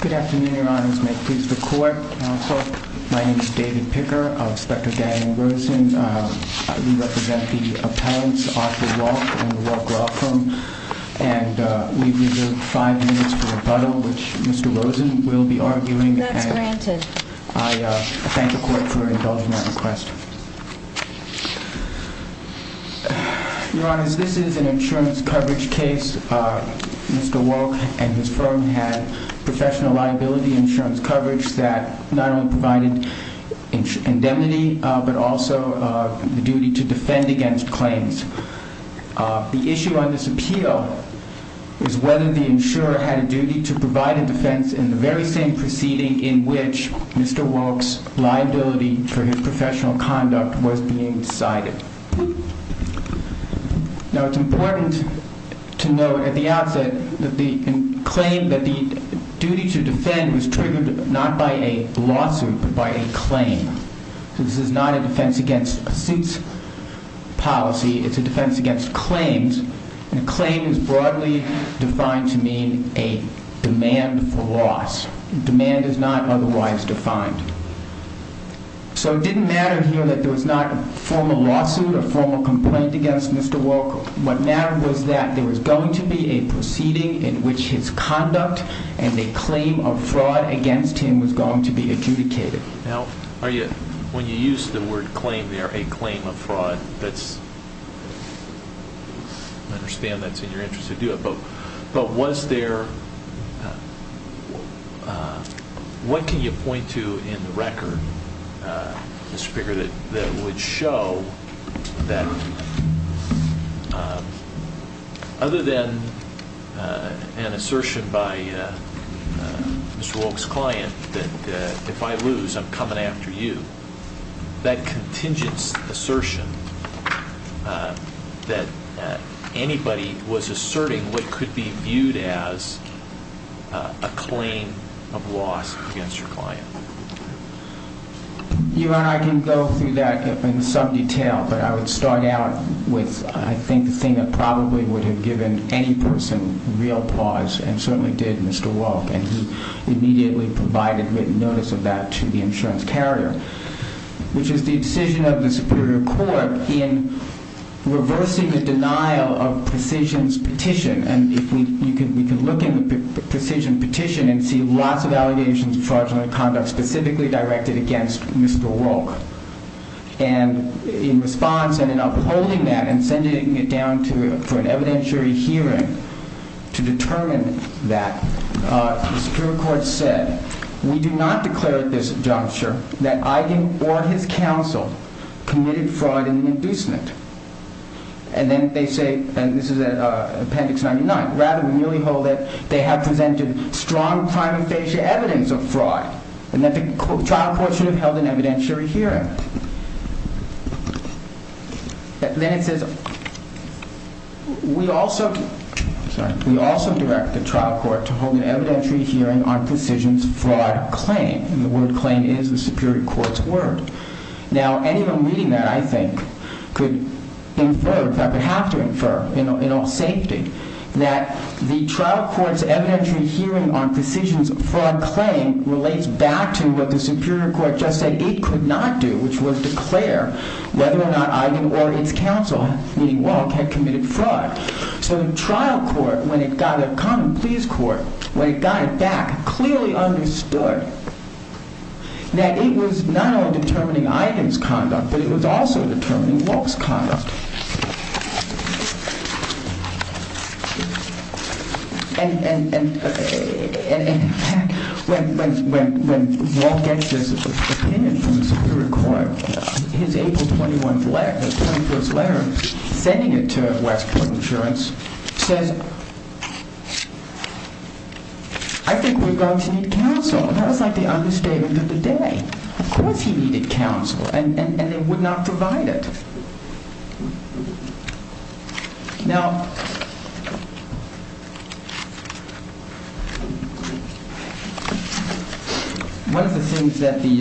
Good afternoon, your honors. May it please the court, counsel. My name is David Picker, Inspector Daniel Rosen. We represent the appellants, Arthur Wolk and the Wolk Law Firm. And we reserve five minutes for rebuttal, which Mr. Rosen will be arguing. That's granted. I thank the court for indulging that request. Your honors, this is an insurance coverage case. Mr. Wolk and his firm had professional liability insurance coverage that not only provided indemnity but also the duty to defend against claims. The issue on this appeal is whether the insurer had a duty to provide a defense in the very same proceeding in which Mr. Wolk's liability for his professional conduct was being decided. Now it's important to note at the outset that the claim that the duty to defend was triggered not by a lawsuit but by a claim. This is not a defense against suits policy. It's a defense against claims. And a claim is broadly defined to mean a demand for loss. Demand is not otherwise defined. So it didn't matter here that there was not a formal lawsuit, a formal complaint against Mr. Wolk. What mattered was that there was going to be a proceeding in which his conduct and a claim of fraud against him was going to be adjudicated. Now, are you, when you use the word claim there, a claim of fraud, that's, I understand that's in your interest to do it, but was there, what can you point to in the record, Mr. Picker, that would show that other than an assertion by Mr. Wolk's client that if I lose I'm coming after you, that contingent assertion that anybody was asserting what You and I can go through that in some detail, but I would start out with, I think, the thing that probably would have given any person real pause, and certainly did Mr. Wolk, and he immediately provided written notice of that to the insurance carrier, which is the decision of the Superior Court in reversing the denial of precision's petition. And if you look in the precision petition and see lots of allegations of fraudulent conduct specifically directed against Mr. Wolk. And in response and in upholding that and sending it down for an evidentiary hearing to determine that, the Superior Court said, we do not declare at this juncture that Eiding or his counsel committed fraud in the inducement. And then they say, and this is appendix 99, rather we merely hold that they have presented strong prima facie evidence of fraud, and that the trial court should have held an evidentiary hearing. Then it says, we also, sorry, we also direct the trial court to hold an evidentiary hearing on precision's fraud claim. And the word claim is the Superior Court's word. Now anyone reading that, I think, could infer, in fact, would have to infer in all safety, that the trial court's evidentiary hearing on precision's fraud claim relates back to what the Superior Court just said it could not do, which was declare whether or not Eiding or its counsel, meaning Wolk, had committed fraud. So the trial court, when it got a common pleas court, when it got it back, clearly understood that it was not only determining Eiding's conduct, but it was also determining Wolk's conduct. And in fact, when Wolk gets this opinion from the Superior Court, his April 21st letter, the 21st letter, sending it to West Point Insurance, says, I think we're going to need counsel. That was like the understatement of the day. Of course he needed counsel, and they would not provide it. Now, one of the things that the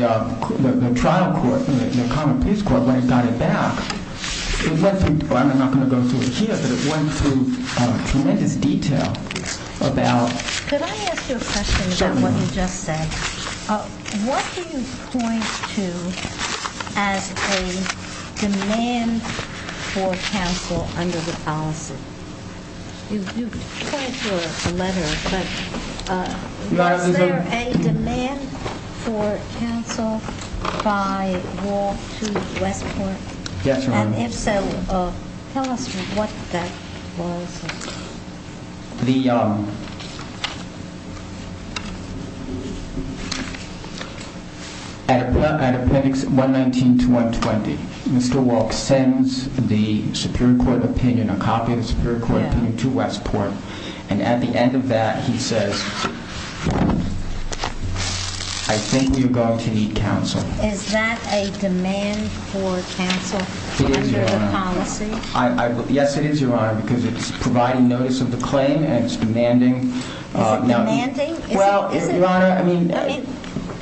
trial court, the common pleas court, when it got it back, it went through, I'm not going to go through it here, but it went through tremendous detail about... Could I ask you a question about what you just said? What do you point to as a demand for counsel under the policy? You point to a letter, but was there a demand for counsel by Wolk to West Point? Yes, Your Honor. And if so, tell us what that was. At Appendix 119 to 120, Mr. Wolk sends the Superior Court opinion, a copy of the Superior Is that a demand for counsel under the policy? It is, Your Honor. Yes, it is, Your Honor, because it's providing notice of the claim and it's demanding... Is it demanding? Well, Your Honor, I mean,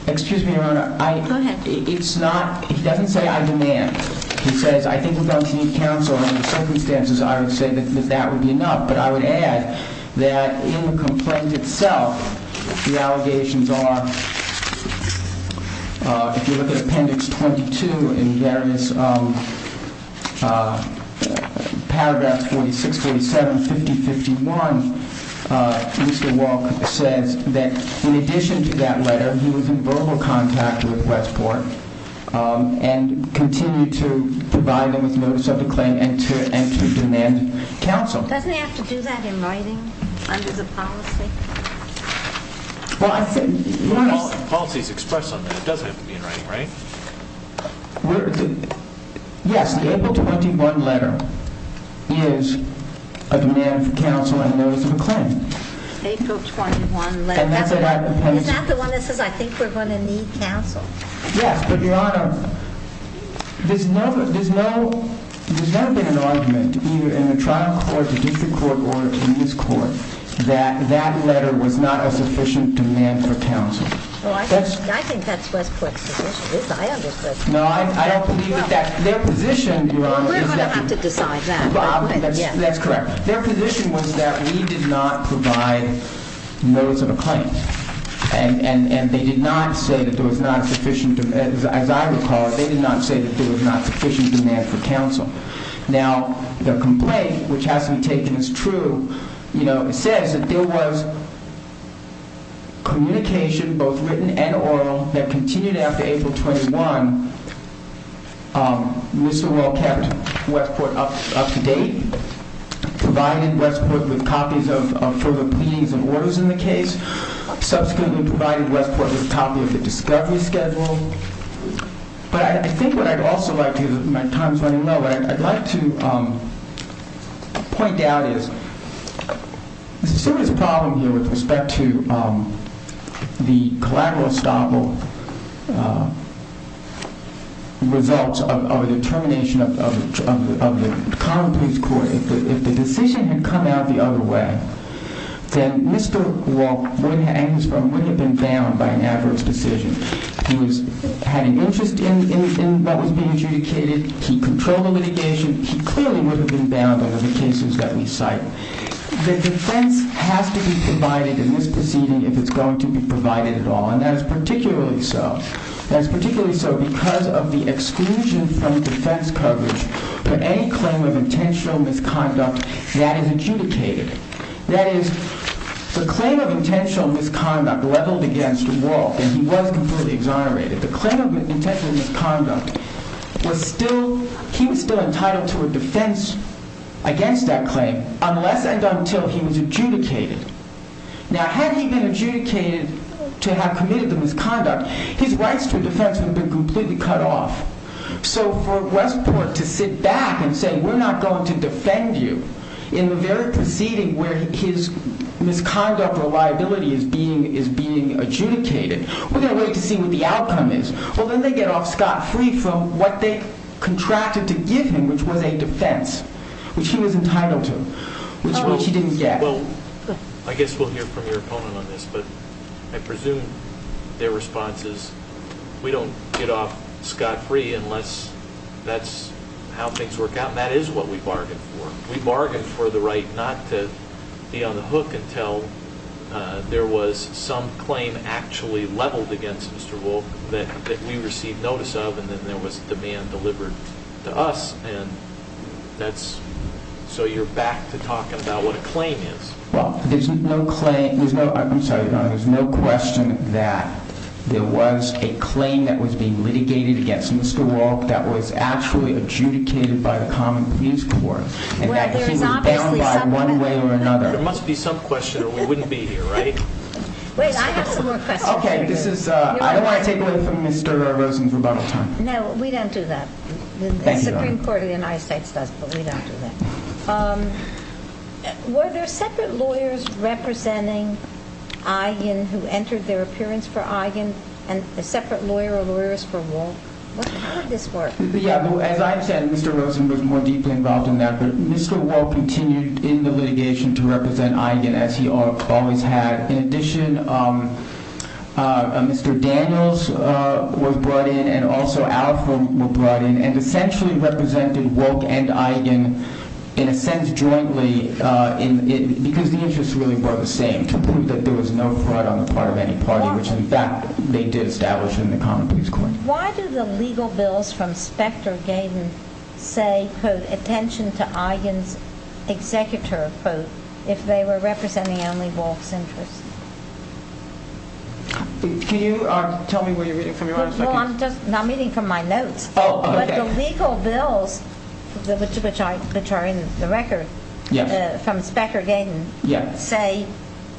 excuse me, Your Honor. Go ahead. It's not, he doesn't say I demand. He says, I think we're going to need counsel, and in the circumstances, I would say that that would be enough. But I would add that in the complaint itself, the allegations are, if you look at Appendix 22 in various paragraphs 46, 47, 50, 51, Mr. Wolk says that in addition to that letter, he was in verbal contact with Westport and continued to provide them with notice of the claim and to demand counsel. Doesn't he have to do that in writing under the policy? Well, I think, Your Honor... Policy is expressed on that. It doesn't have to be in writing, right? Yes, the April 21 letter is a demand for counsel and notice of a claim. April 21 letter. And that's what I proposed. Is that the one that says, I think we're going to need counsel? Yes, but, Your Honor, there's no, there's no, there's never been an argument, either in the trial court, the district court, or in this court, that that letter was not a sufficient demand for counsel. I think that's Westport's position. I understand. No, I don't believe that. Their position, Your Honor... We're going to have to decide that. That's correct. Their position was that we did not provide notice of a claim. And, and they did not say that there was not sufficient, as I recall, they did not say that there was not sufficient demand for counsel. Now, the complaint, which has to be taken as true, you know, it says that there was communication, both written and oral, that continued after April 21. Mr. Wall kept Westport up to date, provided Westport with copies of further pleadings and orders in the case, subsequently provided Westport with a copy of the discovery schedule. But I think what I'd also like to, my time's running low, but I'd like to point out is there's a serious problem here with respect to the collateral estoppel results of the termination of the common police court. If the decision had come out the other way, then Mr. Wall would have been bound by an adverse decision. He was having interest in what was being adjudicated. He controlled the litigation. He clearly would have been bound under the cases that we cite. The defense has to be provided in this proceeding if it's going to be provided at all. And that is particularly so because of the exclusion from defense coverage for any claim of intentional misconduct that is adjudicated. That is, the claim of intentional misconduct leveled against Wall, and he was completely exonerated. The claim of intentional misconduct was still, he was still entitled to a defense against that claim unless and until he was adjudicated. Now, had he been adjudicated to have committed the misconduct, his rights to a defense would have been completely cut off. So for Westport to sit back and say, we're not going to defend you in the very proceeding where his misconduct or liability is being adjudicated, we're going to wait to see what the outcome is. Well, then they get off scot-free from what they contracted to give him, which was a defense, which he was entitled to, which he didn't get. Well, I guess we'll hear from your opponent on this, but I presume their response is, we don't get off scot-free unless that's how things work out, and that is what we bargained for. We bargained for the right not to be on the hook until there was some claim actually leveled against Mr. Wall that we received notice of, and then there was So you're back to talking about what a claim is. Well, there's no question that there was a claim that was being litigated against Mr. Wall that was actually adjudicated by the common pleas court, and that he was bound by one way or another. There must be some question or we wouldn't be here, right? Wait, I have some more questions. Okay, I don't want to take away from Mr. Rosen's rebuttal time. No, we don't do that. Thank you. The Supreme Court of the United States does, but we don't do that. Were there separate lawyers representing Eigen who entered their appearance for Eigen, and a separate lawyer or lawyers for Wall? How did this work? Yeah, as I've said, Mr. Rosen was more deeply involved in that, but Mr. Wall continued in the litigation to represent Eigen as he always had. In addition, Mr. Daniels was brought in, and also Alfred was brought in, and essentially represented Wall and Eigen in a sense jointly because the interests really were the same, to prove that there was no fraud on the part of any party, which in fact they did establish in the common pleas court. Why do the legal bills from Specter-Gaden say, quote, attention to Eigen's executor, quote, if they were representing only Wall's interests? Can you tell me what you're reading from your own second? No, I'm just, I'm reading from my notes. Oh, okay. But the legal bills, which are in the record, from Specter-Gaden, say,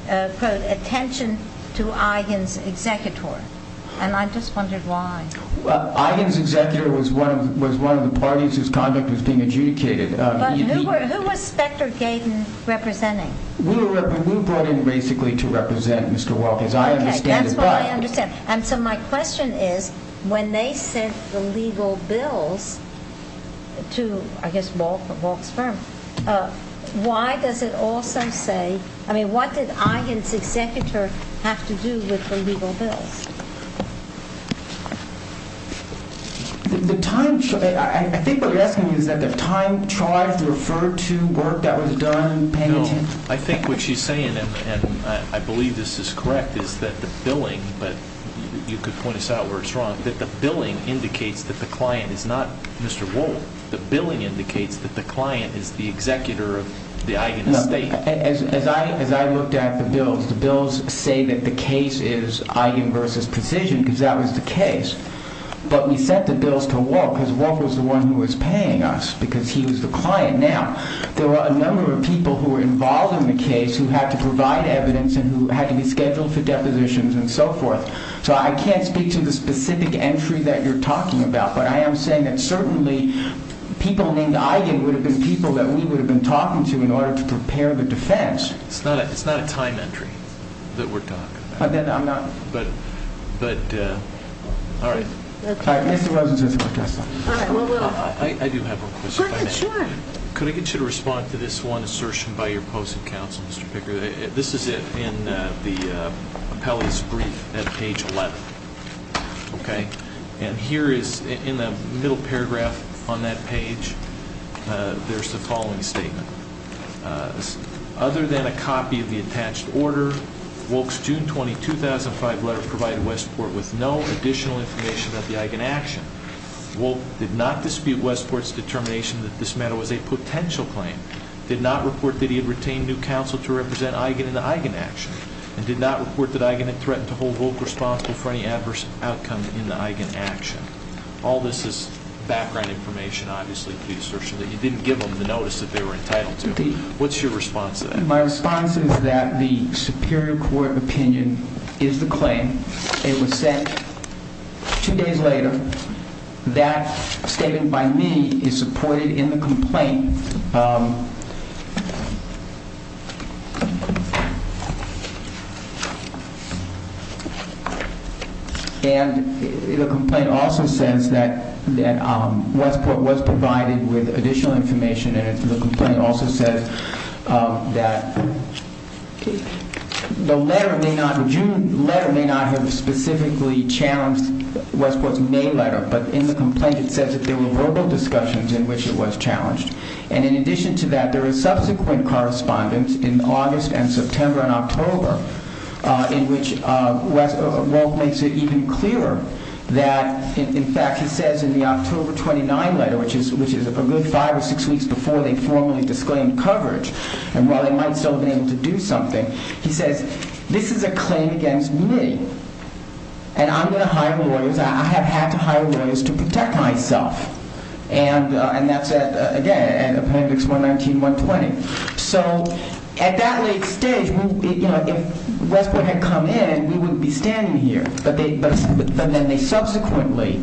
quote, attention to Eigen's executor, and I just wondered why. Well, Eigen's executor was one of the parties whose conduct was being adjudicated. But who was Specter-Gaden representing? We were brought in basically to represent Mr. Wall, as I understand it. Okay, that's what I understand. And so my question is, when they sent the legal bills to, I guess, Wall's firm, why does it also say, I mean, what did Eigen's executor have to do with the legal bills? The time, I think what you're asking me is that the time tried to refer to work that was done paying attention. I think what she's saying, and I believe this is correct, is that the billing, but you could point us out where it's wrong, that the billing indicates that the client is not Mr. Wall. The billing indicates that the client is the executor of the Eigen estate. As I looked at the bills, the bills say that the case is Eigen versus Precision, because that was the case. But we sent the bills to Wall, because Wall was the one who was paying us, because he was the client. Now, there were a number of people who were involved in the case who had to provide evidence and who had to be scheduled for depositions and so forth. So I can't speak to the specific entry that you're talking about, but I am saying that certainly people named Eigen would have been people that we would have been talking to in order to prepare the defense. It's not a time entry that we're talking about. Then I'm not. But, all right. All right, Mr. Rosen says he wants to ask something. All right, well, we'll. I do have a question. Go ahead, sure. Could I get you to respond to this one assertion by your post in counsel, Mr. Picker? This is in the appellee's brief at page 11. Okay? And here is, in the middle paragraph on that page, there's the following statement. Other than a copy of the attached order, Wolk's June 20, 2005 letter provided Westport with no additional information about the Eigen action. Wolk did not dispute Westport's determination that this matter was a potential claim, did not report that he had retained new counsel to represent Eigen in the Eigen action, and did not report that Eigen had threatened to hold Wolk responsible for any adverse outcome in the Eigen action. All this is background information, obviously, to the assertion that you didn't give them the notice that they were entitled to. What's your response to that? My response is that the superior court opinion is the claim. It was sent two days later. That statement by me is supported in the complaint. And the complaint also says that Westport was provided with additional information, and the complaint also says that the letter may not, the June letter may not have specifically challenged Westport's May letter, but in the complaint it says that there were verbal discussions in which it was challenged. And in addition to that, there is subsequent correspondence in August and September and October in which Wolk makes it even clearer that, in fact, he says in the October 29 letter, which is a good five or six weeks before they formally disclaimed coverage, and while they might still have been able to do something, he says, this is a claim against me, and I'm going to hire lawyers, I have had to hire lawyers to protect myself. And that's, again, appendix 119, 120. So at that late stage, if Westport had come in, we wouldn't be standing here. But then they subsequently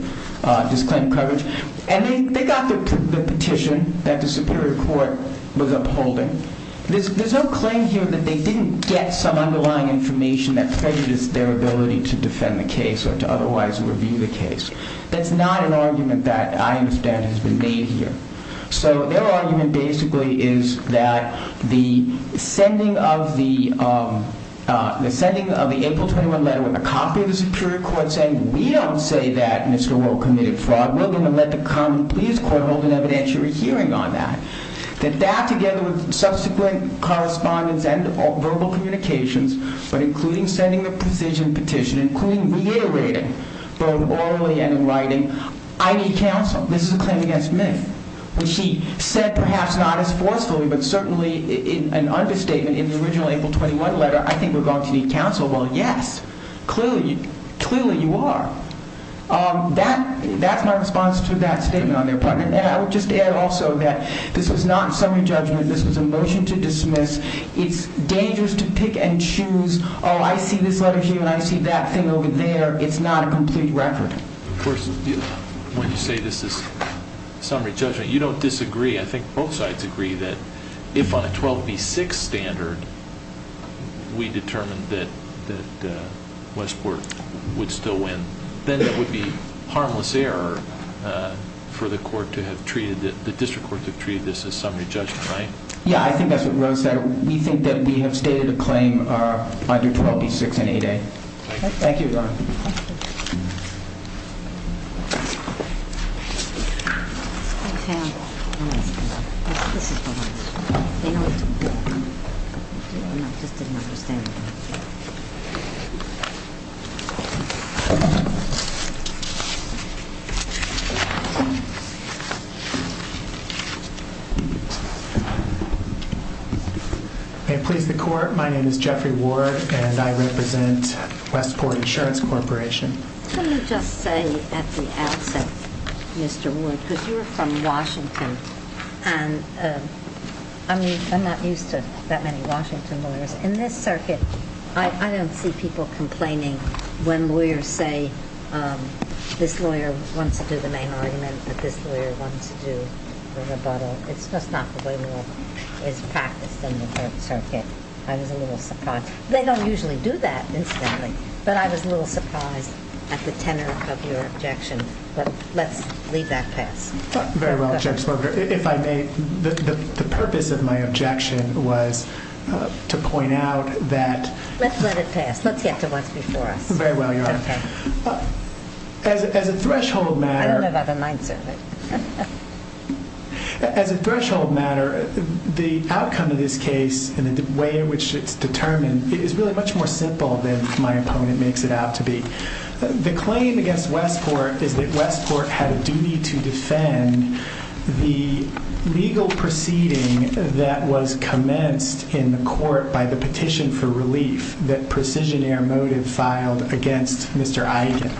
disclaimed coverage, and they got the petition that the Superior Court was upholding. There's no claim here that they didn't get some underlying information that prejudiced their ability to defend the case or to otherwise review the case. That's not an argument that I understand has been made here. So their argument basically is that the sending of the, the sending of the April 21 letter with a copy of the Superior Court saying, we don't say that Mr. Wolk committed fraud, we're going to let the Common Pleas Court hold an evidentiary hearing on that, that that together with subsequent correspondence and verbal communications, but including sending the precision petition, including reiterating both orally and in writing, I need counsel, this is a claim against me, which he said perhaps not as forcefully, but certainly an understatement in the original April 21 letter, I think we're going to need counsel. Well, yes, clearly, clearly you are. That, that's my response to that statement on their part. And I would just add also that this was not a summary judgment. This was a motion to dismiss. It's dangerous to pick and choose. Oh, I see this letter here and I see that thing over there. It's not a complete record. Of course, when you say this is summary judgment, you don't disagree. I think both sides agree that if on a 12B6 standard we determined that Westport would still win, then it would be harmless error for the court to have treated, the district court to have treated this as summary judgment, right? Yeah, I think that's what Rose said. We think that we have stated a claim under 12B6 and 8A. Thank you. Thank you, Ron. This is the one. They know what to do. I just didn't understand. May it please the court, my name is Jeffrey Ward and I represent Westport Insurance Corporation. Can you just say at the outset, Mr. Ward, because you're from Washington and I'm not used to that many Washington lawyers. In this circuit, I don't see people complaining when lawyers say this lawyer wants to do the main argument, but this lawyer wants to do the rebuttal. It's just not the way it's practiced in the court circuit. I was a little surprised. They don't usually do that, incidentally, but I was a little surprised at the tenor of your objection. But let's leave that past. Very well, Justice Barber. If I may, the purpose of my objection was to point out that- Let's let it pass. Let's get to what's before us. Very well, Your Honor. Okay. As a threshold matter- I don't have other mindsets. As a threshold matter, the outcome of this case and the way in which it's determined is really much more simple than my opponent makes it out to be. The claim against Westport is that Westport had a duty to defend the legal proceeding that was commenced in the court by the petition for relief that Precision Air Motive filed against Mr. Iden.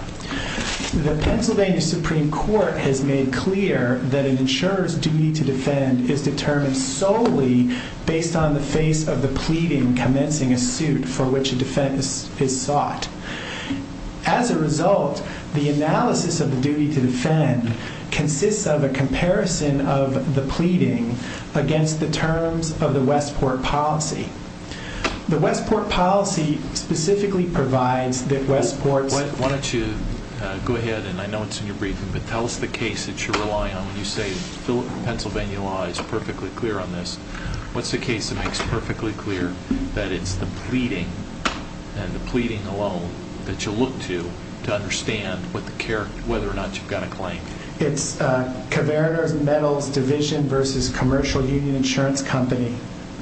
The Pennsylvania Supreme Court has made clear that an insurer's duty to defend is determined solely based on the face of the pleading commencing a suit for which a defense is sought. As a result, the analysis of the duty to defend consists of a comparison of the pleading against the terms of the Westport policy. The Westport policy specifically provides that Westport's- Why don't you go ahead, and I know it's in your briefing, but tell us the case that you're relying on when you say the Pennsylvania law is perfectly clear on this. What's the case that makes perfectly clear that it's the pleading and the pleading alone that you look to to understand whether or not you've got a claim? It's Caverna Metals Division v. Commercial Union Insurance Company,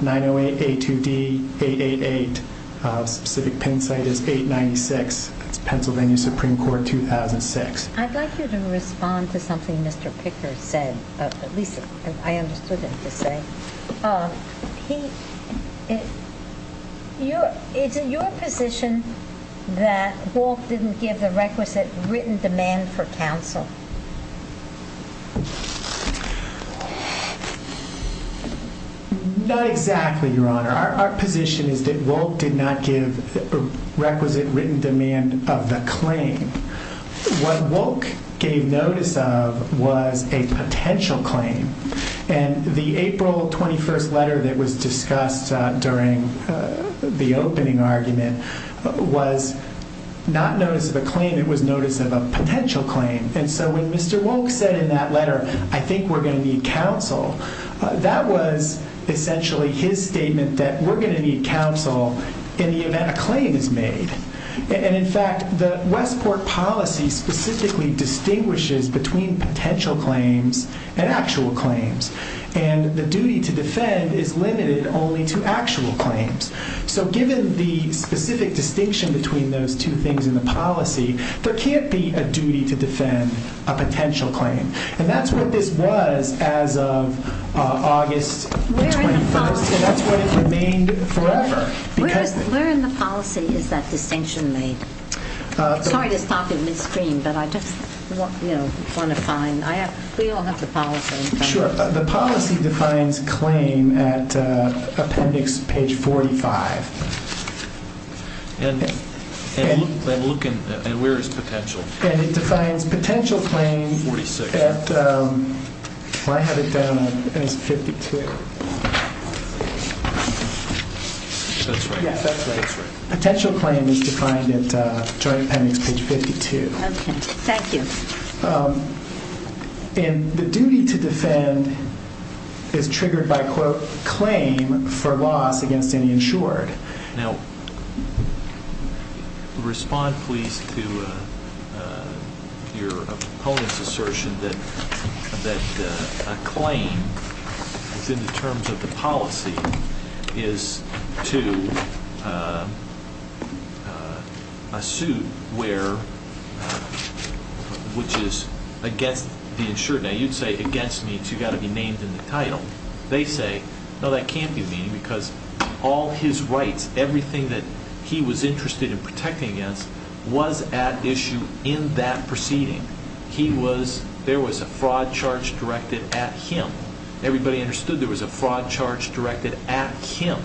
908-82D-888. The specific pin site is 896. It's Pennsylvania Supreme Court, 2006. I'd like you to respond to something Mr. Picker said, at least I understood him to say. Is it your position that Wolk didn't give the requisite written demand for counsel? Not exactly, Your Honor. Our position is that Wolk did not give requisite written demand of the claim. What Wolk gave notice of was a potential claim, and the April 21st letter that was discussed during the opening argument was not notice of a claim, it was notice of a potential claim. When Mr. Wolk said in that letter, I think we're going to need counsel, that was essentially his statement that we're going to need counsel in the event a claim is made. In fact, the Westport policy specifically distinguishes between potential claims and actual claims. The duty to defend is limited only to actual claims. So given the specific distinction between those two things in the policy, there can't be a duty to defend a potential claim. And that's what this was as of August 21st, and that's what it remained forever. Where in the policy is that distinction made? Sorry to stop in midstream, but I just want to find, we all have the policy. Sure, the policy defines claim at appendix page 45. And where is potential? And it defines potential claim at, well I have it down as 52. That's right. Potential claim is defined at joint appendix page 52. Okay, thank you. And the duty to defend is triggered by, quote, claim for loss against any insured. Now, respond please to your opponent's assertion that a claim within the terms of the policy is to a suit where, which is against the insured. Now, you'd say against means you've got to be named in the title. They say, no, that can't be the meaning because all his rights, everything that he was interested in protecting against was at issue in that proceeding. He was, there was a fraud charge directed at him. Everybody understood there was a fraud charge directed at him.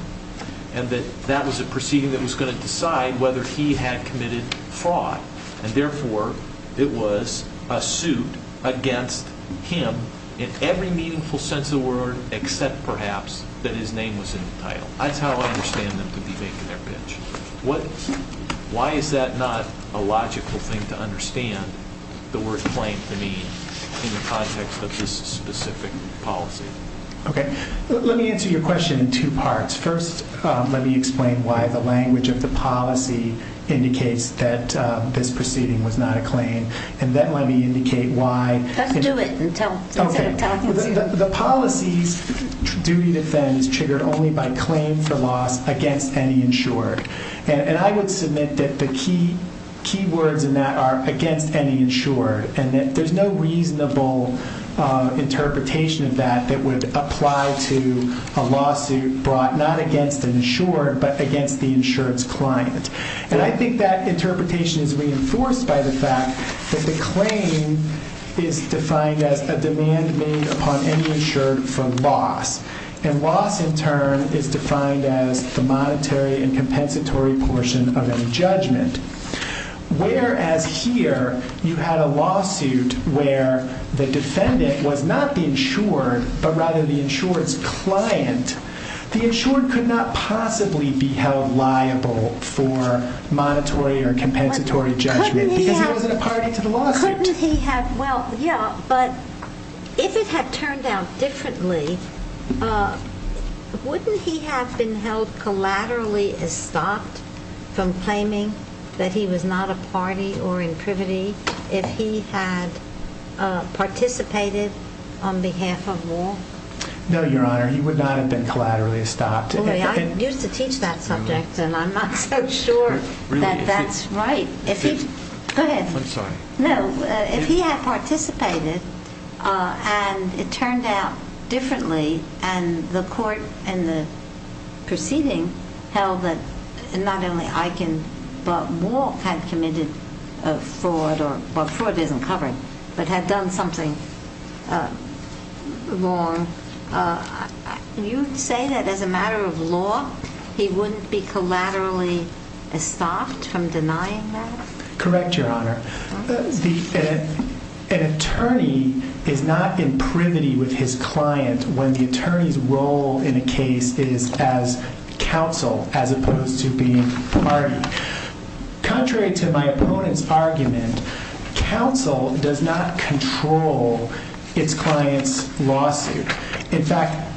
And that that was a proceeding that was going to decide whether he had committed fraud. And therefore, it was a suit against him in every meaningful sense of the word except perhaps that his name was in the title. That's how I understand them to be making their pitch. Why is that not a logical thing to understand the word claim to mean in the context of this specific policy? Okay, let me answer your question in two parts. First, let me explain why the language of the policy indicates that this proceeding was not a claim. And then let me indicate why. Let's do it instead of talking to you. The policy's duty to defend is triggered only by claim for loss against any insured. And I would submit that the key words in that are against any insured. And that there's no reasonable interpretation of that that would apply to a lawsuit brought not against an insured but against the insurance client. And I think that interpretation is reinforced by the fact that the claim is defined as a demand made upon any insured for loss. And loss in turn is defined as the monetary and compensatory portion of any judgment. Whereas here you had a lawsuit where the defendant was not the insured but rather the insured's client. The insured could not possibly be held liable for monetary or compensatory judgment because he wasn't a party to the lawsuit. Well, yeah, but if it had turned out differently, wouldn't he have been held collaterally estopped from claiming that he was not a party or in privity if he had participated on behalf of law? No, Your Honor, he would not have been collaterally estopped. I used to teach that subject and I'm not so sure that that's right. Go ahead. I'm sorry. No, if he had participated and it turned out differently and the court in the proceeding held that not only Eichen but Moore had committed a fraud or, well, fraud isn't covered, but had done something wrong, you would say that as a matter of law he wouldn't be collaterally estopped from denying that? Correct, Your Honor. An attorney is not in privity with his client when the attorney's role in a case is as counsel as opposed to being party. Contrary to my opponent's argument, counsel does not control its client's lawsuit. In fact,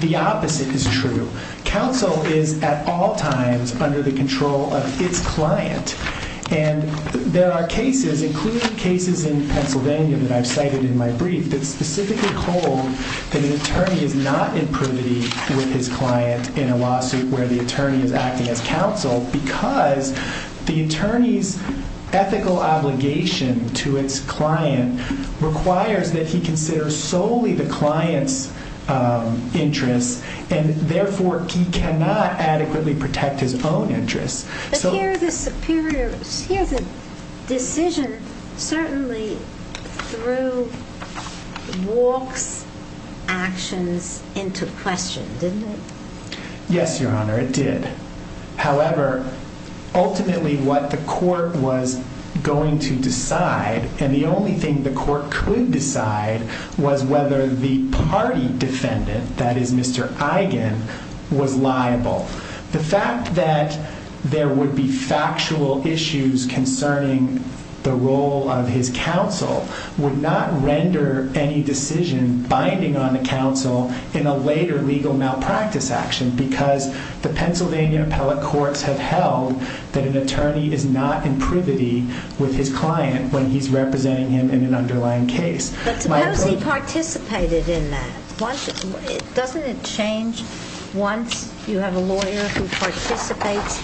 the opposite is true. Counsel is at all times under the control of its client. And there are cases, including cases in Pennsylvania that I've cited in my brief, that specifically hold that an attorney is not in privity with his client in a lawsuit where the attorney is acting as counsel because the attorney's ethical obligation to its client requires that he consider solely the client's interests and, therefore, he cannot adequately protect his own interests. But here the decision certainly threw Walks' actions into question, didn't it? Yes, Your Honor, it did. However, ultimately what the court was going to decide, and the only thing the court could decide, was whether the party defendant, that is Mr. Eichen, was liable. The fact that there would be factual issues concerning the role of his counsel would not render any decision binding on the counsel in a later legal malpractice action because the Pennsylvania appellate courts have held that an attorney is not in privity with his client when he's representing him in an underlying case. But suppose he participated in that. Doesn't it change once you have a lawyer who participates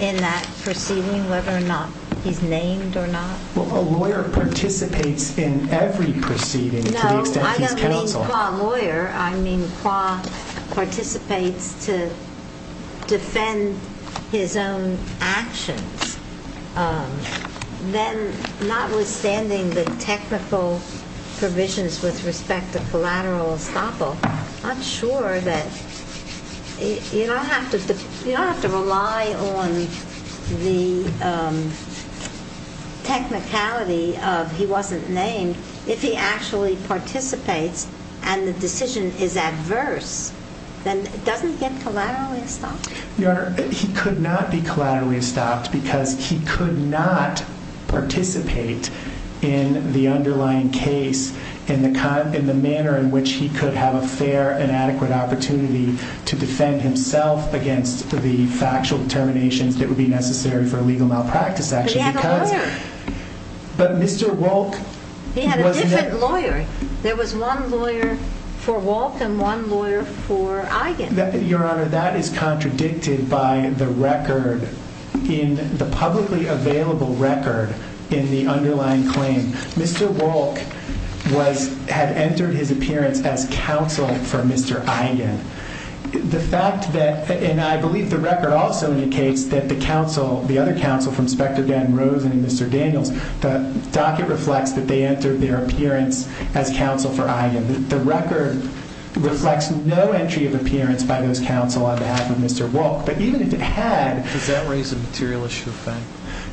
in that proceeding, whether or not he's named or not? Well, a lawyer participates in every proceeding to the extent he's counsel. I mean, qua lawyer, I mean, qua participates to defend his own actions. Then, notwithstanding the technical provisions with respect to collateral estoppel, I'm not sure that you don't have to rely on the technicality of he wasn't named. If he actually participates and the decision is adverse, then doesn't he get collateral estoppel? Your Honor, he could not be collaterally estopped because he could not participate in the underlying case in the manner in which he could have a fair and adequate opportunity to defend himself against the factual determinations that would be necessary for a legal malpractice action. But he had a lawyer. But Mr. Wolk wasn't there. He had a different lawyer. There was one lawyer for Wolk and one lawyer for Eichen. Your Honor, that is contradicted by the record in the publicly available record in the underlying claim. Mr. Wolk was, had entered his appearance as counsel for Mr. Eichen. The fact that, and I believe the record also indicates that the counsel, the other counsel from Spector Dan Rosen and Mr. Daniels, the docket reflects that they entered their appearance as counsel for Eichen. The record reflects no entry of appearance by those counsel on behalf of Mr. Wolk. But even if it had. Does that raise a material issue of fact?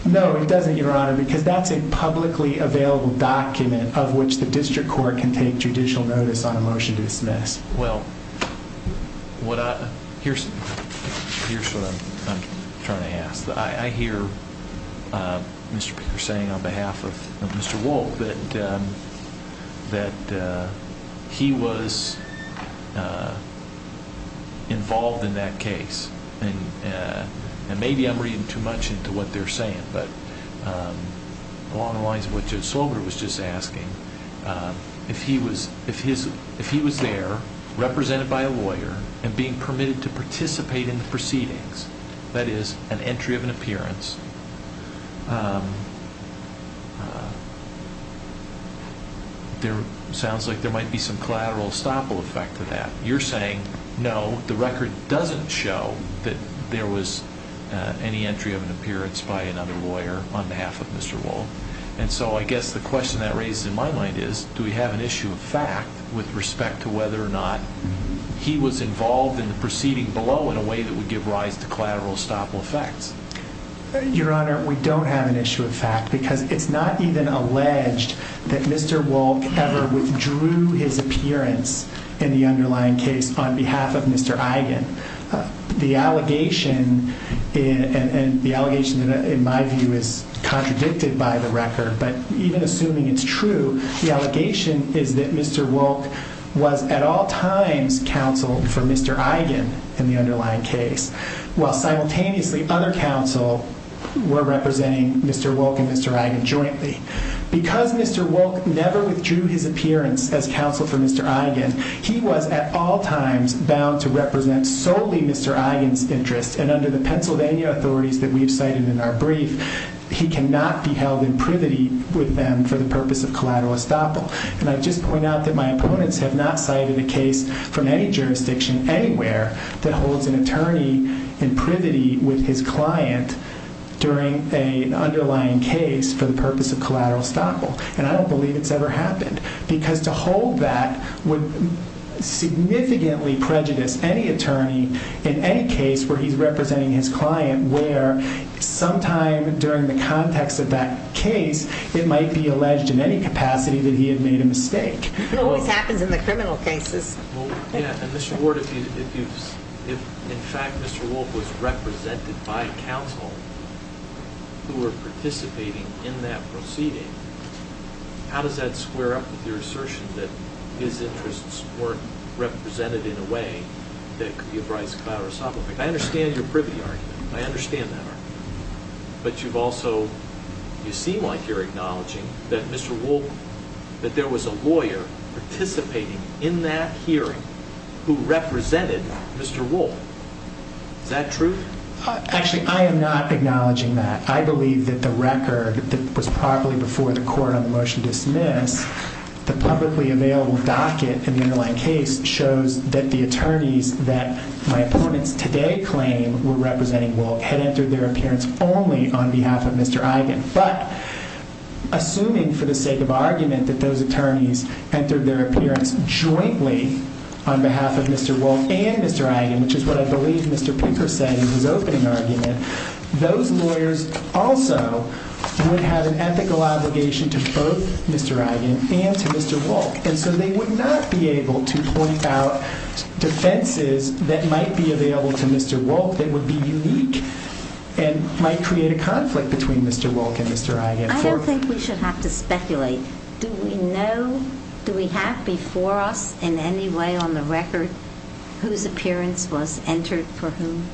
No, it doesn't, Your Honor, because that's a publicly available document of which the district court can take judicial notice on a motion to dismiss. Well, here's what I'm trying to ask. I hear Mr. Baker saying on behalf of Mr. Wolk that he was involved in that case. And maybe I'm reading too much into what they're saying. But along the lines of what Judge Slogar was just asking, if he was there represented by a lawyer and being permitted to participate in the proceedings, that is, an entry of an appearance. There sounds like there might be some collateral estoppel effect to that. You're saying no, the record doesn't show that there was any entry of an appearance by another lawyer on behalf of Mr. Wolk. And so I guess the question that raises in my mind is, do we have an issue of fact with respect to whether or not he was involved in the proceeding below in a way that would give rise to collateral estoppel effects? Your Honor, we don't have an issue of fact because it's not even alleged that Mr. Wolk ever withdrew his appearance in the underlying case on behalf of Mr. Eigen. The allegation in my view is contradicted by the record, but even assuming it's true, the allegation is that Mr. Wolk was at all times counseled for Mr. Eigen in the underlying case. While simultaneously other counsel were representing Mr. Wolk and Mr. Eigen jointly. Because Mr. Wolk never withdrew his appearance as counsel for Mr. Eigen, he was at all times bound to represent solely Mr. Eigen's interests. And under the Pennsylvania authorities that we've cited in our brief, he cannot be held in privity with them for the purpose of collateral estoppel. And I just point out that my opponents have not cited a case from any jurisdiction anywhere that holds an attorney in privity with his client during an underlying case for the purpose of collateral estoppel. And I don't believe it's ever happened. Because to hold that would significantly prejudice any attorney in any case where he's representing his client where sometime during the context of that case, it might be alleged in any capacity that he had made a mistake. It always happens in the criminal cases. And Mr. Ward, if in fact Mr. Wolk was represented by counsel who were participating in that proceeding, how does that square up with your assertion that his interests weren't represented in a way that could be of collateral estoppel? I understand your privity argument. I understand that argument. But you've also, you seem like you're acknowledging that Mr. Wolk, that there was a lawyer participating in that hearing who represented Mr. Wolk. Is that true? Actually, I am not acknowledging that. I believe that the record that was properly before the court on the motion to dismiss the publicly available docket in the underlying case shows that the attorneys that my opponents today claim were representing Wolk had entered their appearance only on behalf of Mr. Eigen. But assuming for the sake of argument that those attorneys entered their appearance jointly on behalf of Mr. Wolk and Mr. Eigen, which is what I believe Mr. Pinker said in his opening argument, those lawyers also would have an ethical obligation to both Mr. Eigen and to Mr. Wolk. And so they would not be able to point out defenses that might be available to Mr. Wolk that would be unique and might create a conflict between Mr. Wolk and Mr. Eigen. I don't think we should have to speculate. Do we know, do we have before us in any way on the record whose appearance was entered for whom?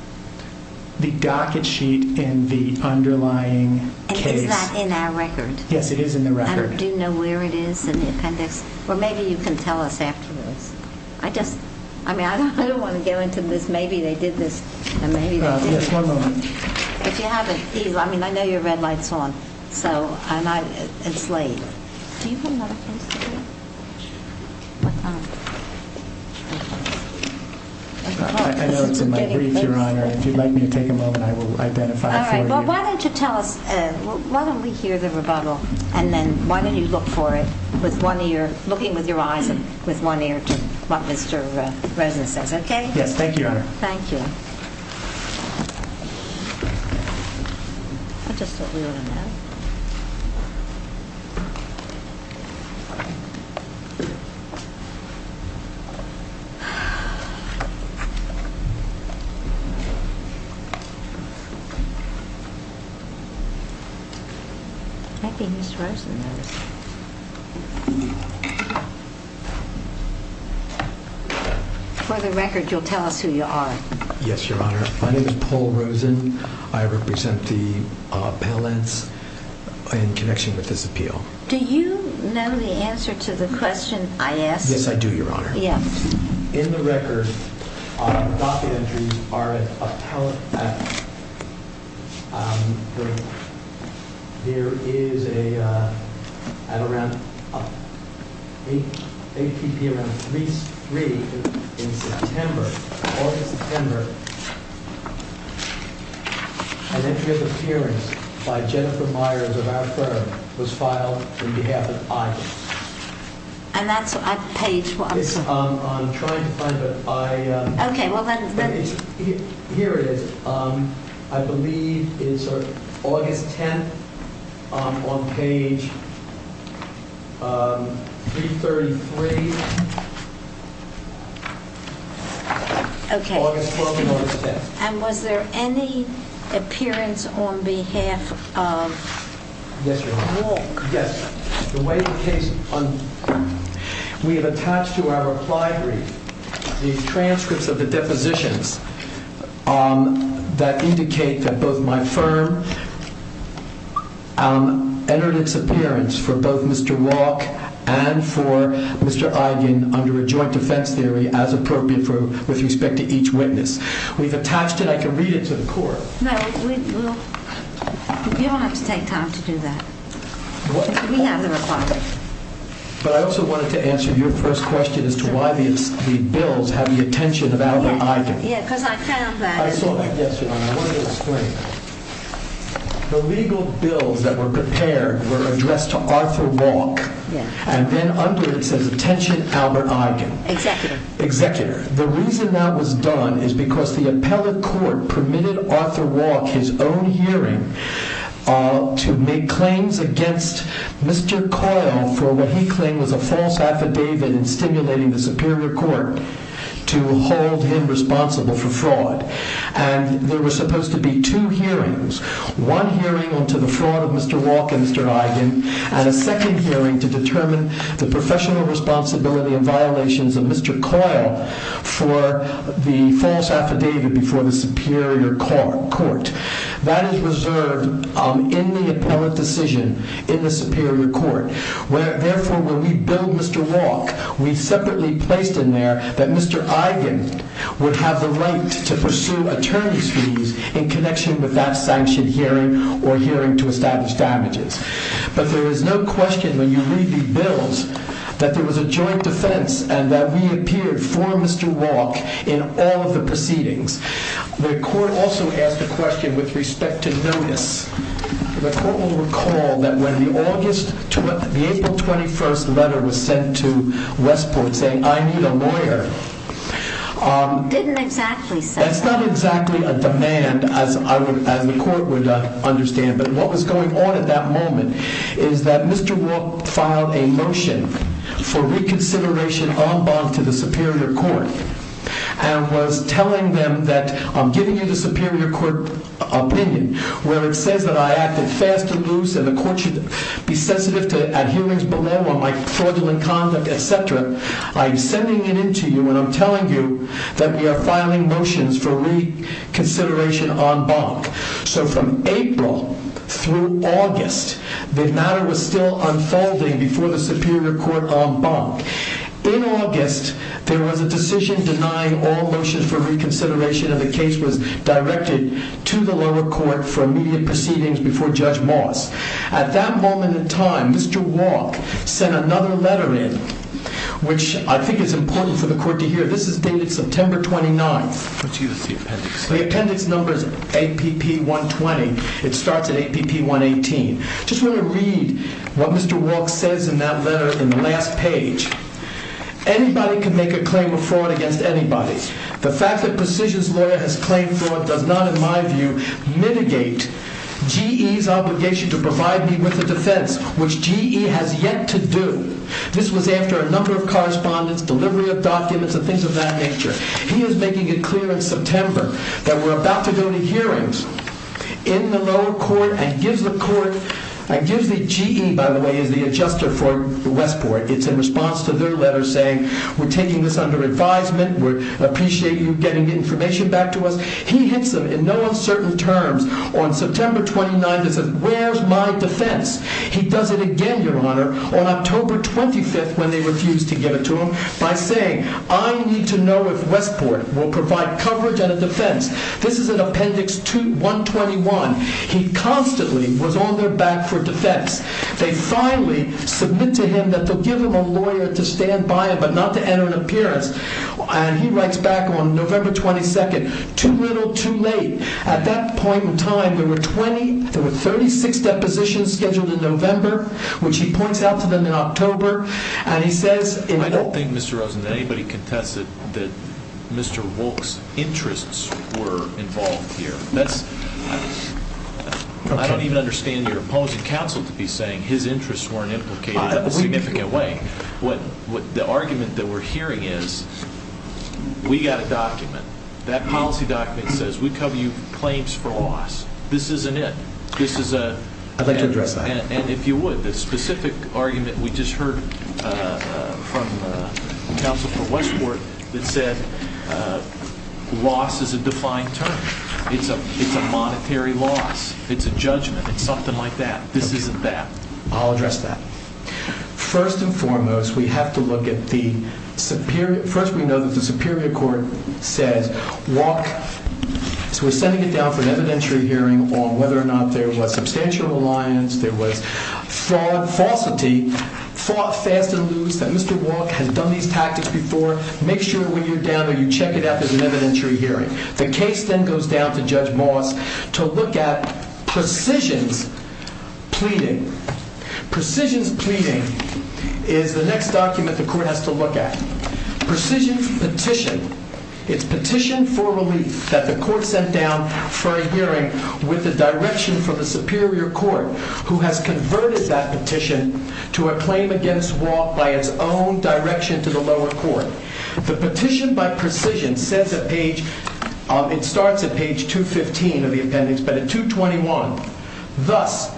The docket sheet in the underlying case. And is that in our record? Yes, it is in the record. Do you know where it is in the appendix? Or maybe you can tell us afterwards. I just, I mean, I don't want to get into this. Maybe they did this, maybe they didn't. Yes, one moment. If you have it, please. I mean, I know your red light's on. So, and I, it's late. Do you have another place to put it? I know it's in my brief, Your Honor. If you'd let me take a moment, I will identify it for you. Well, why don't you tell us, why don't we hear the rebuttal and then why don't you look for it with one ear, looking with your eyes and with one ear to what Mr. Resnick says, okay? Yes, thank you, Your Honor. Thank you. For the record, you'll tell us who you are. Yes, Your Honor. My name is Paul Rosen. I represent the appellants in connection with this appeal. Do you know the answer to the question I asked? Yes, I do, Your Honor. Yes. In the record, our docket entries are an appellate matter. There is a, at around, ATP around 3, 3 in September, August, September, an entry of appearance by Jennifer Myers of our firm was filed on behalf of Ivan. And that's on page what I'm saying. I'm trying to find it. Okay, well then. Here it is. I believe it is sort of August 10th on page 333. Okay. August 12th and August 10th. And was there any appearance on behalf of? Yes, Your Honor. Wolk. Yes. The way the case, we have attached to our reply brief the transcripts of the depositions that indicate that both my firm entered its appearance for both Mr. Wolk and for Mr. Ivan under a joint defense theory as appropriate for, with respect to each witness. We've attached it. I can read it to the court. No, we, we'll, you don't have to take time to do that. We have the reply. But I also wanted to answer your first question as to why the bills have the attention of Albert Eigen. Yeah, because I found that. Yes, Your Honor, I wanted to explain. The legal bills that were prepared were addressed to Arthur Wolk and then under it says attention Albert Eigen. Executive. The reason that was done is because the appellate court permitted Arthur Wolk his own hearing to make claims against Mr. Coyle for what he claimed was a false affidavit in stimulating the Superior Court to hold him responsible for fraud. And there was supposed to be two hearings, one hearing on to the fraud of Mr. Wolk and Mr. Eigen and a second hearing to determine the professional responsibility and violations of Mr. Coyle for the false affidavit before the Superior Court. That is reserved in the appellate decision in the Superior Court where, therefore, when we bill Mr. Wolk, we separately placed in there that Mr. Eigen would have the right to pursue attorney's fees in connection with that sanctioned hearing or hearing to establish damages. But there is no question when you read the bills that there was a joint defense and that we appeared for Mr. Wolk in all of the proceedings. The court also asked a question with respect to notice. The court will recall that when the April 21st letter was sent to Westport saying I need a lawyer, that's not exactly a demand as the court would understand. But what was going on at that moment is that Mr. Wolk filed a motion for reconsideration en banc to the Superior Court and was telling them that I'm giving you the Superior Court opinion where it says that I acted fast and loose and the court should be sensitive to adherence bolema, my fraudulent conduct, etc. I'm sending it in to you and I'm telling you that we are filing motions for reconsideration en banc. So from April through August, the matter was still unfolding before the Superior Court en banc. In August, there was a decision denying all motions for reconsideration and the case was directed to the lower court for immediate proceedings before Judge Moss. At that moment in time, Mr. Wolk sent another letter in which I think is important for the court to hear. This is dated September 29th. The appendix number is APP120. It starts at APP118. I just want to read what Mr. Wolk says in that letter in the last page. Anybody can make a claim of fraud against anybody. The fact that precision's lawyer has claimed fraud does not in my view mitigate GE's obligation to provide me with a defense, which GE has yet to do. This was after a number of correspondence, delivery of documents, and things of that nature. He is making it clear in September that we're about to go to hearings in the lower court and gives the GE, by the way, as the adjuster for Westport. It's in response to their letter saying we're taking this under advisement. We appreciate you getting information back to us. He hits them in no uncertain terms on September 29th and says, where's my defense? He does it again, Your Honor, on October 25th when they refused to give it to him by saying, I need to know if Westport will provide coverage and a defense. This is in Appendix 121. He constantly was on their back for defense. They finally submit to him that they'll give him a lawyer to stand by him but not to enter an appearance. And he writes back on November 22nd, too little, too late. At that point in time, there were 36 depositions scheduled in November, which he points out to them in October. I don't think, Mr. Rosen, that anybody contested that Mr. Wolk's interests were involved here. I don't even understand your opposing counsel to be saying his interests weren't implicated in a significant way. The argument that we're hearing is we got a document. That policy document says we cover you claims for loss. This isn't it. This is a- I'd like to address that. And if you would, the specific argument we just heard from counsel for Westport that said loss is a defined term. It's a monetary loss. It's a judgment. It's something like that. This isn't that. I'll address that. First and foremost, we have to look at the superior- First, we know that the superior court says Wolk- So we're sending it down for an evidentiary hearing on whether or not there was substantial reliance, there was fraud, falsity, fought fast and loose, that Mr. Wolk has done these tactics before. Make sure when you're down there, you check it out. There's an evidentiary hearing. The case then goes down to Judge Moss to look at precision's pleading. Precision's pleading is the next document the court has to look at. Precision's petition, it's petition for relief that the court sent down for a hearing with the direction from the superior court, who has converted that petition to a claim against Wolk by its own direction to the lower court. The petition by precision says at page- It starts at page 215 of the appendix, but at 221, Thus,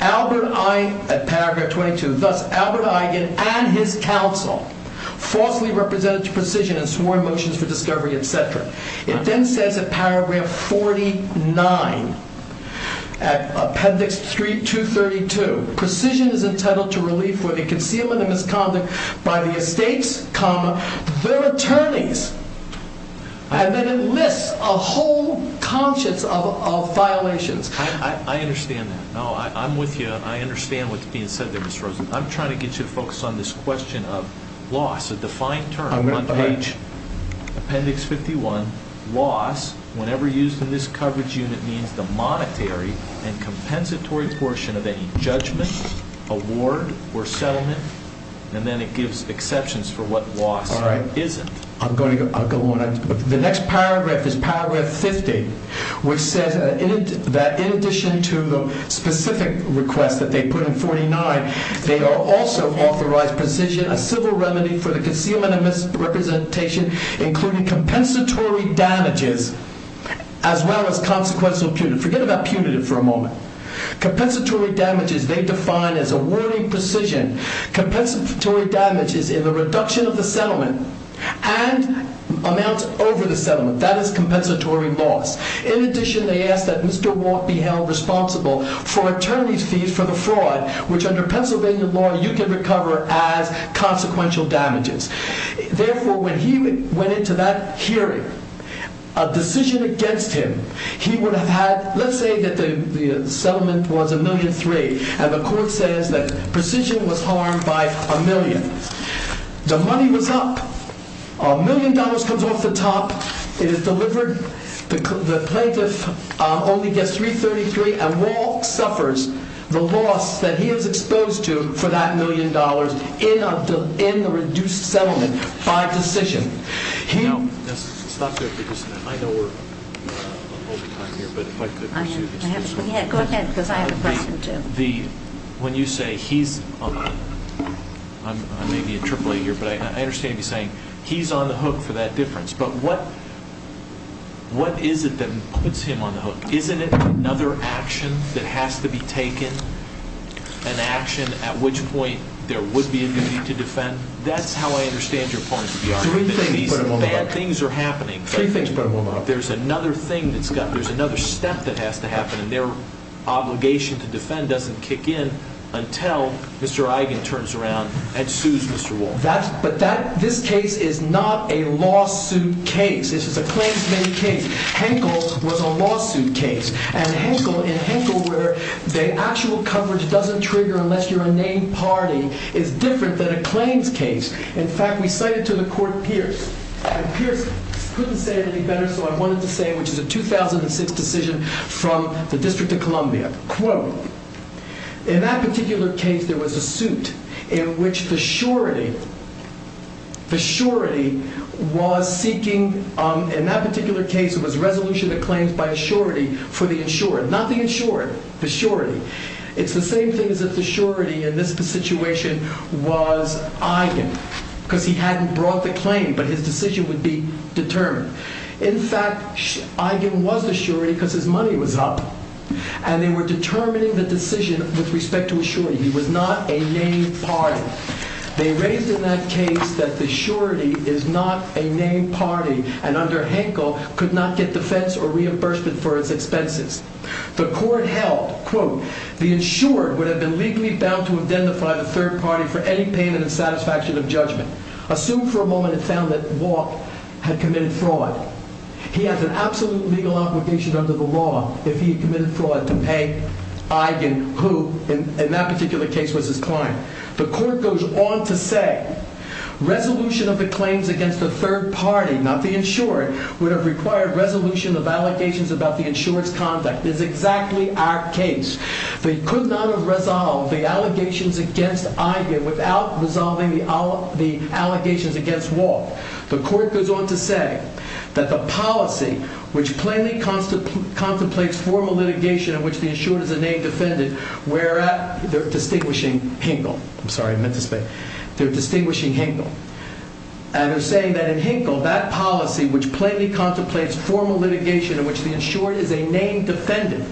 Albert Eigen, at paragraph 22, Thus, Albert Eigen and his counsel falsely represented to precision and swore motions for discovery, etc. It then says at paragraph 49, at appendix 232, Precision is entitled to relief for concealment of misconduct by the estates, their attorneys. And then it lists a whole conscience of violations. I understand that. I'm with you. I understand what's being said there, Mr. Rosen. I'm trying to get you to focus on this question of loss, a defined term. On page appendix 51, whenever used in this coverage unit means the monetary and compensatory portion of any judgment, award, or settlement. And then it gives exceptions for what loss isn't. I'm going to go on. The next paragraph is paragraph 50, which says that in addition to the specific request that they put in 49, they also authorized precision, a civil remedy for the concealment of misrepresentation, including compensatory damages, as well as consequential punitive. Forget about punitive for a moment. Compensatory damages, they define as awarding precision, compensatory damages in the reduction of the settlement, and amounts over the settlement. That is compensatory loss. In addition, they ask that Mr. Walt be held responsible for attorney's fees for the fraud, which under Pennsylvania law, you can recover as consequential damages. Therefore, when he went into that hearing, a decision against him, he would have had, let's say that the settlement was a million three, and the court says that precision was harmed by a million. The money was up. A million dollars comes off the top. It is delivered. The plaintiff only gets 333, and Walt suffers the loss that he is exposed to for that million dollars in the reduced settlement by decision. Now, let's stop there for just a minute. I know we're over time here, but if I could pursue this question. Go ahead, because I have a question too. When you say he's on the hook, I may be a AAA here, but I understand you saying he's on the hook for that difference, but what is it that puts him on the hook? Isn't it another action that has to be taken, an action at which point there would be a duty to defend? That's how I understand your point of the argument, that these bad things are happening. There's another thing that's got to happen. There's another step that has to happen, and their obligation to defend doesn't kick in until Mr. Eigen turns around and sues Mr. Walt. But this case is not a lawsuit case. This is a claims-made case. Henkel was a lawsuit case, and Henkel, in Henkel, where the actual coverage doesn't trigger unless you're a named party, is different than a claims case. In fact, we cited to the court Pierce, and Pierce couldn't say it any better, so I wanted to say it, which is a 2006 decision from the District of Columbia. Quote, In that particular case, there was a suit in which the surety was seeking... In that particular case, it was resolution of claims by a surety for the insured. Not the insured, the surety. It's the same thing as if the surety in this situation was Eigen, because he hadn't brought the claim, but his decision would be determined. In fact, Eigen was a surety because his money was up, and they were determining the decision with respect to a surety. He was not a named party. They raised in that case that the surety is not a named party, and under Henkel could not get defense or reimbursement for its expenses. The court held, quote, The insured would have been legally bound to identify the third party for any pain and dissatisfaction of judgment. Assume for a moment it found that Walk had committed fraud. He has an absolute legal obligation under the law if he had committed fraud to pay Eigen, who in that particular case was his client. The court goes on to say, Resolution of the claims against the third party, not the insured, would have required resolution of allegations about the insured's conduct. This is exactly our case. They could not have resolved the allegations against Eigen without resolving the allegations against Walk. The court goes on to say that the policy which plainly contemplates formal litigation in which the insured is a named defendant, they're distinguishing Henkel. I'm sorry, I meant to say, they're distinguishing Henkel. And they're saying that in Henkel, that policy which plainly contemplates formal litigation in which the insured is a named defendant,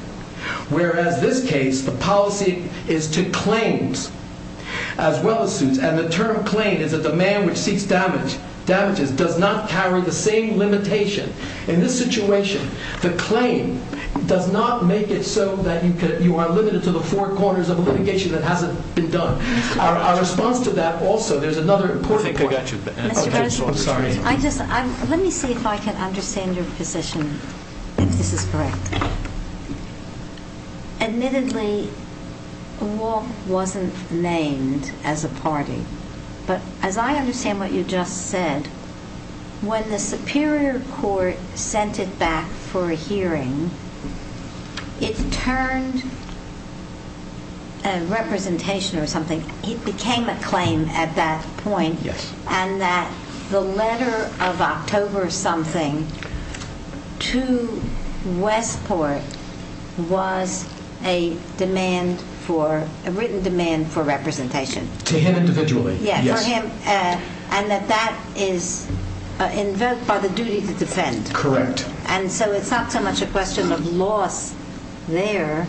whereas this case, the policy is to claims, as well as suits, and the term claim is that the man which seeks damages does not carry the same limitation. In this situation, the claim does not make it so that you are limited to the four corners of litigation that hasn't been done. Our response to that also, there's another important point. I think I got you. Let me see if I can understand your position, if this is correct. Admittedly, Walk wasn't named as a party. But as I understand what you just said, when the Superior Court sent it back for a hearing, it turned representation or something, it became a claim at that point, and that the letter of October something to Westport was a written demand for representation. To him individually. And that that is invoked by the duty to defend. Correct. And so it's not so much a question of loss there,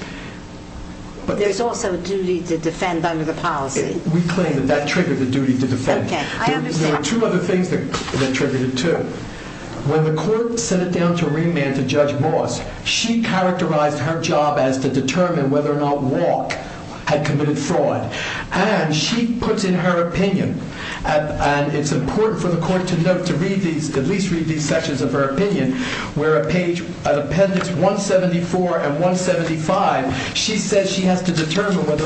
but there's also a duty to defend under the policy. We claim that that triggered the duty to defend. There are two other things that triggered it too. When the court sent it down to Ringman to judge Moss, she characterized her job as to determine whether or not Walk had committed fraud. And she puts in her opinion, and it's important for the court to note, to at least read these sections of her opinion, where at appendix 174 and 175, she says she has to determine whether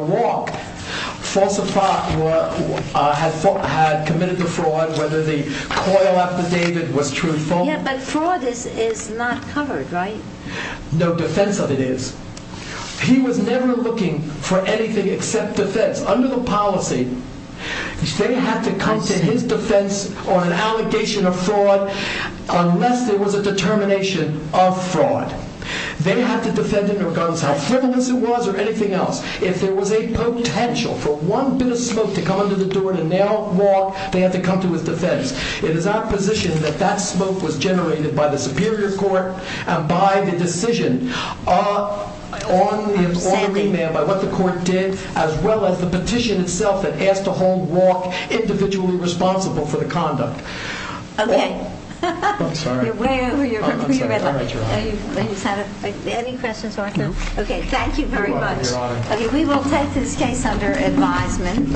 Walk had committed the fraud, whether the coil affidavit was true or false. Yeah, but fraud is not covered, right? No defense of it is. He was never looking for anything except defense. Under the policy, they have to come to his defense on an allegation of fraud unless there was a determination of fraud. They have to defend it regardless of how frivolous it was or anything else. If there was a potential for one bit of smoke to come under the door to nail Walk, they have to come to his defense. It is our position that that smoke was generated by the Superior Court and by the decision on the remand by what the court did as well as the petition itself that asked to hold Walk individually responsible for the conduct. Okay. I'm sorry. You're way over your red line. I'm sorry. All right, Your Honor. Any questions, Arthur? No. Okay, thank you very much. You're welcome, Your Honor. Okay, we will take this case under advisement. Michael? Please rise.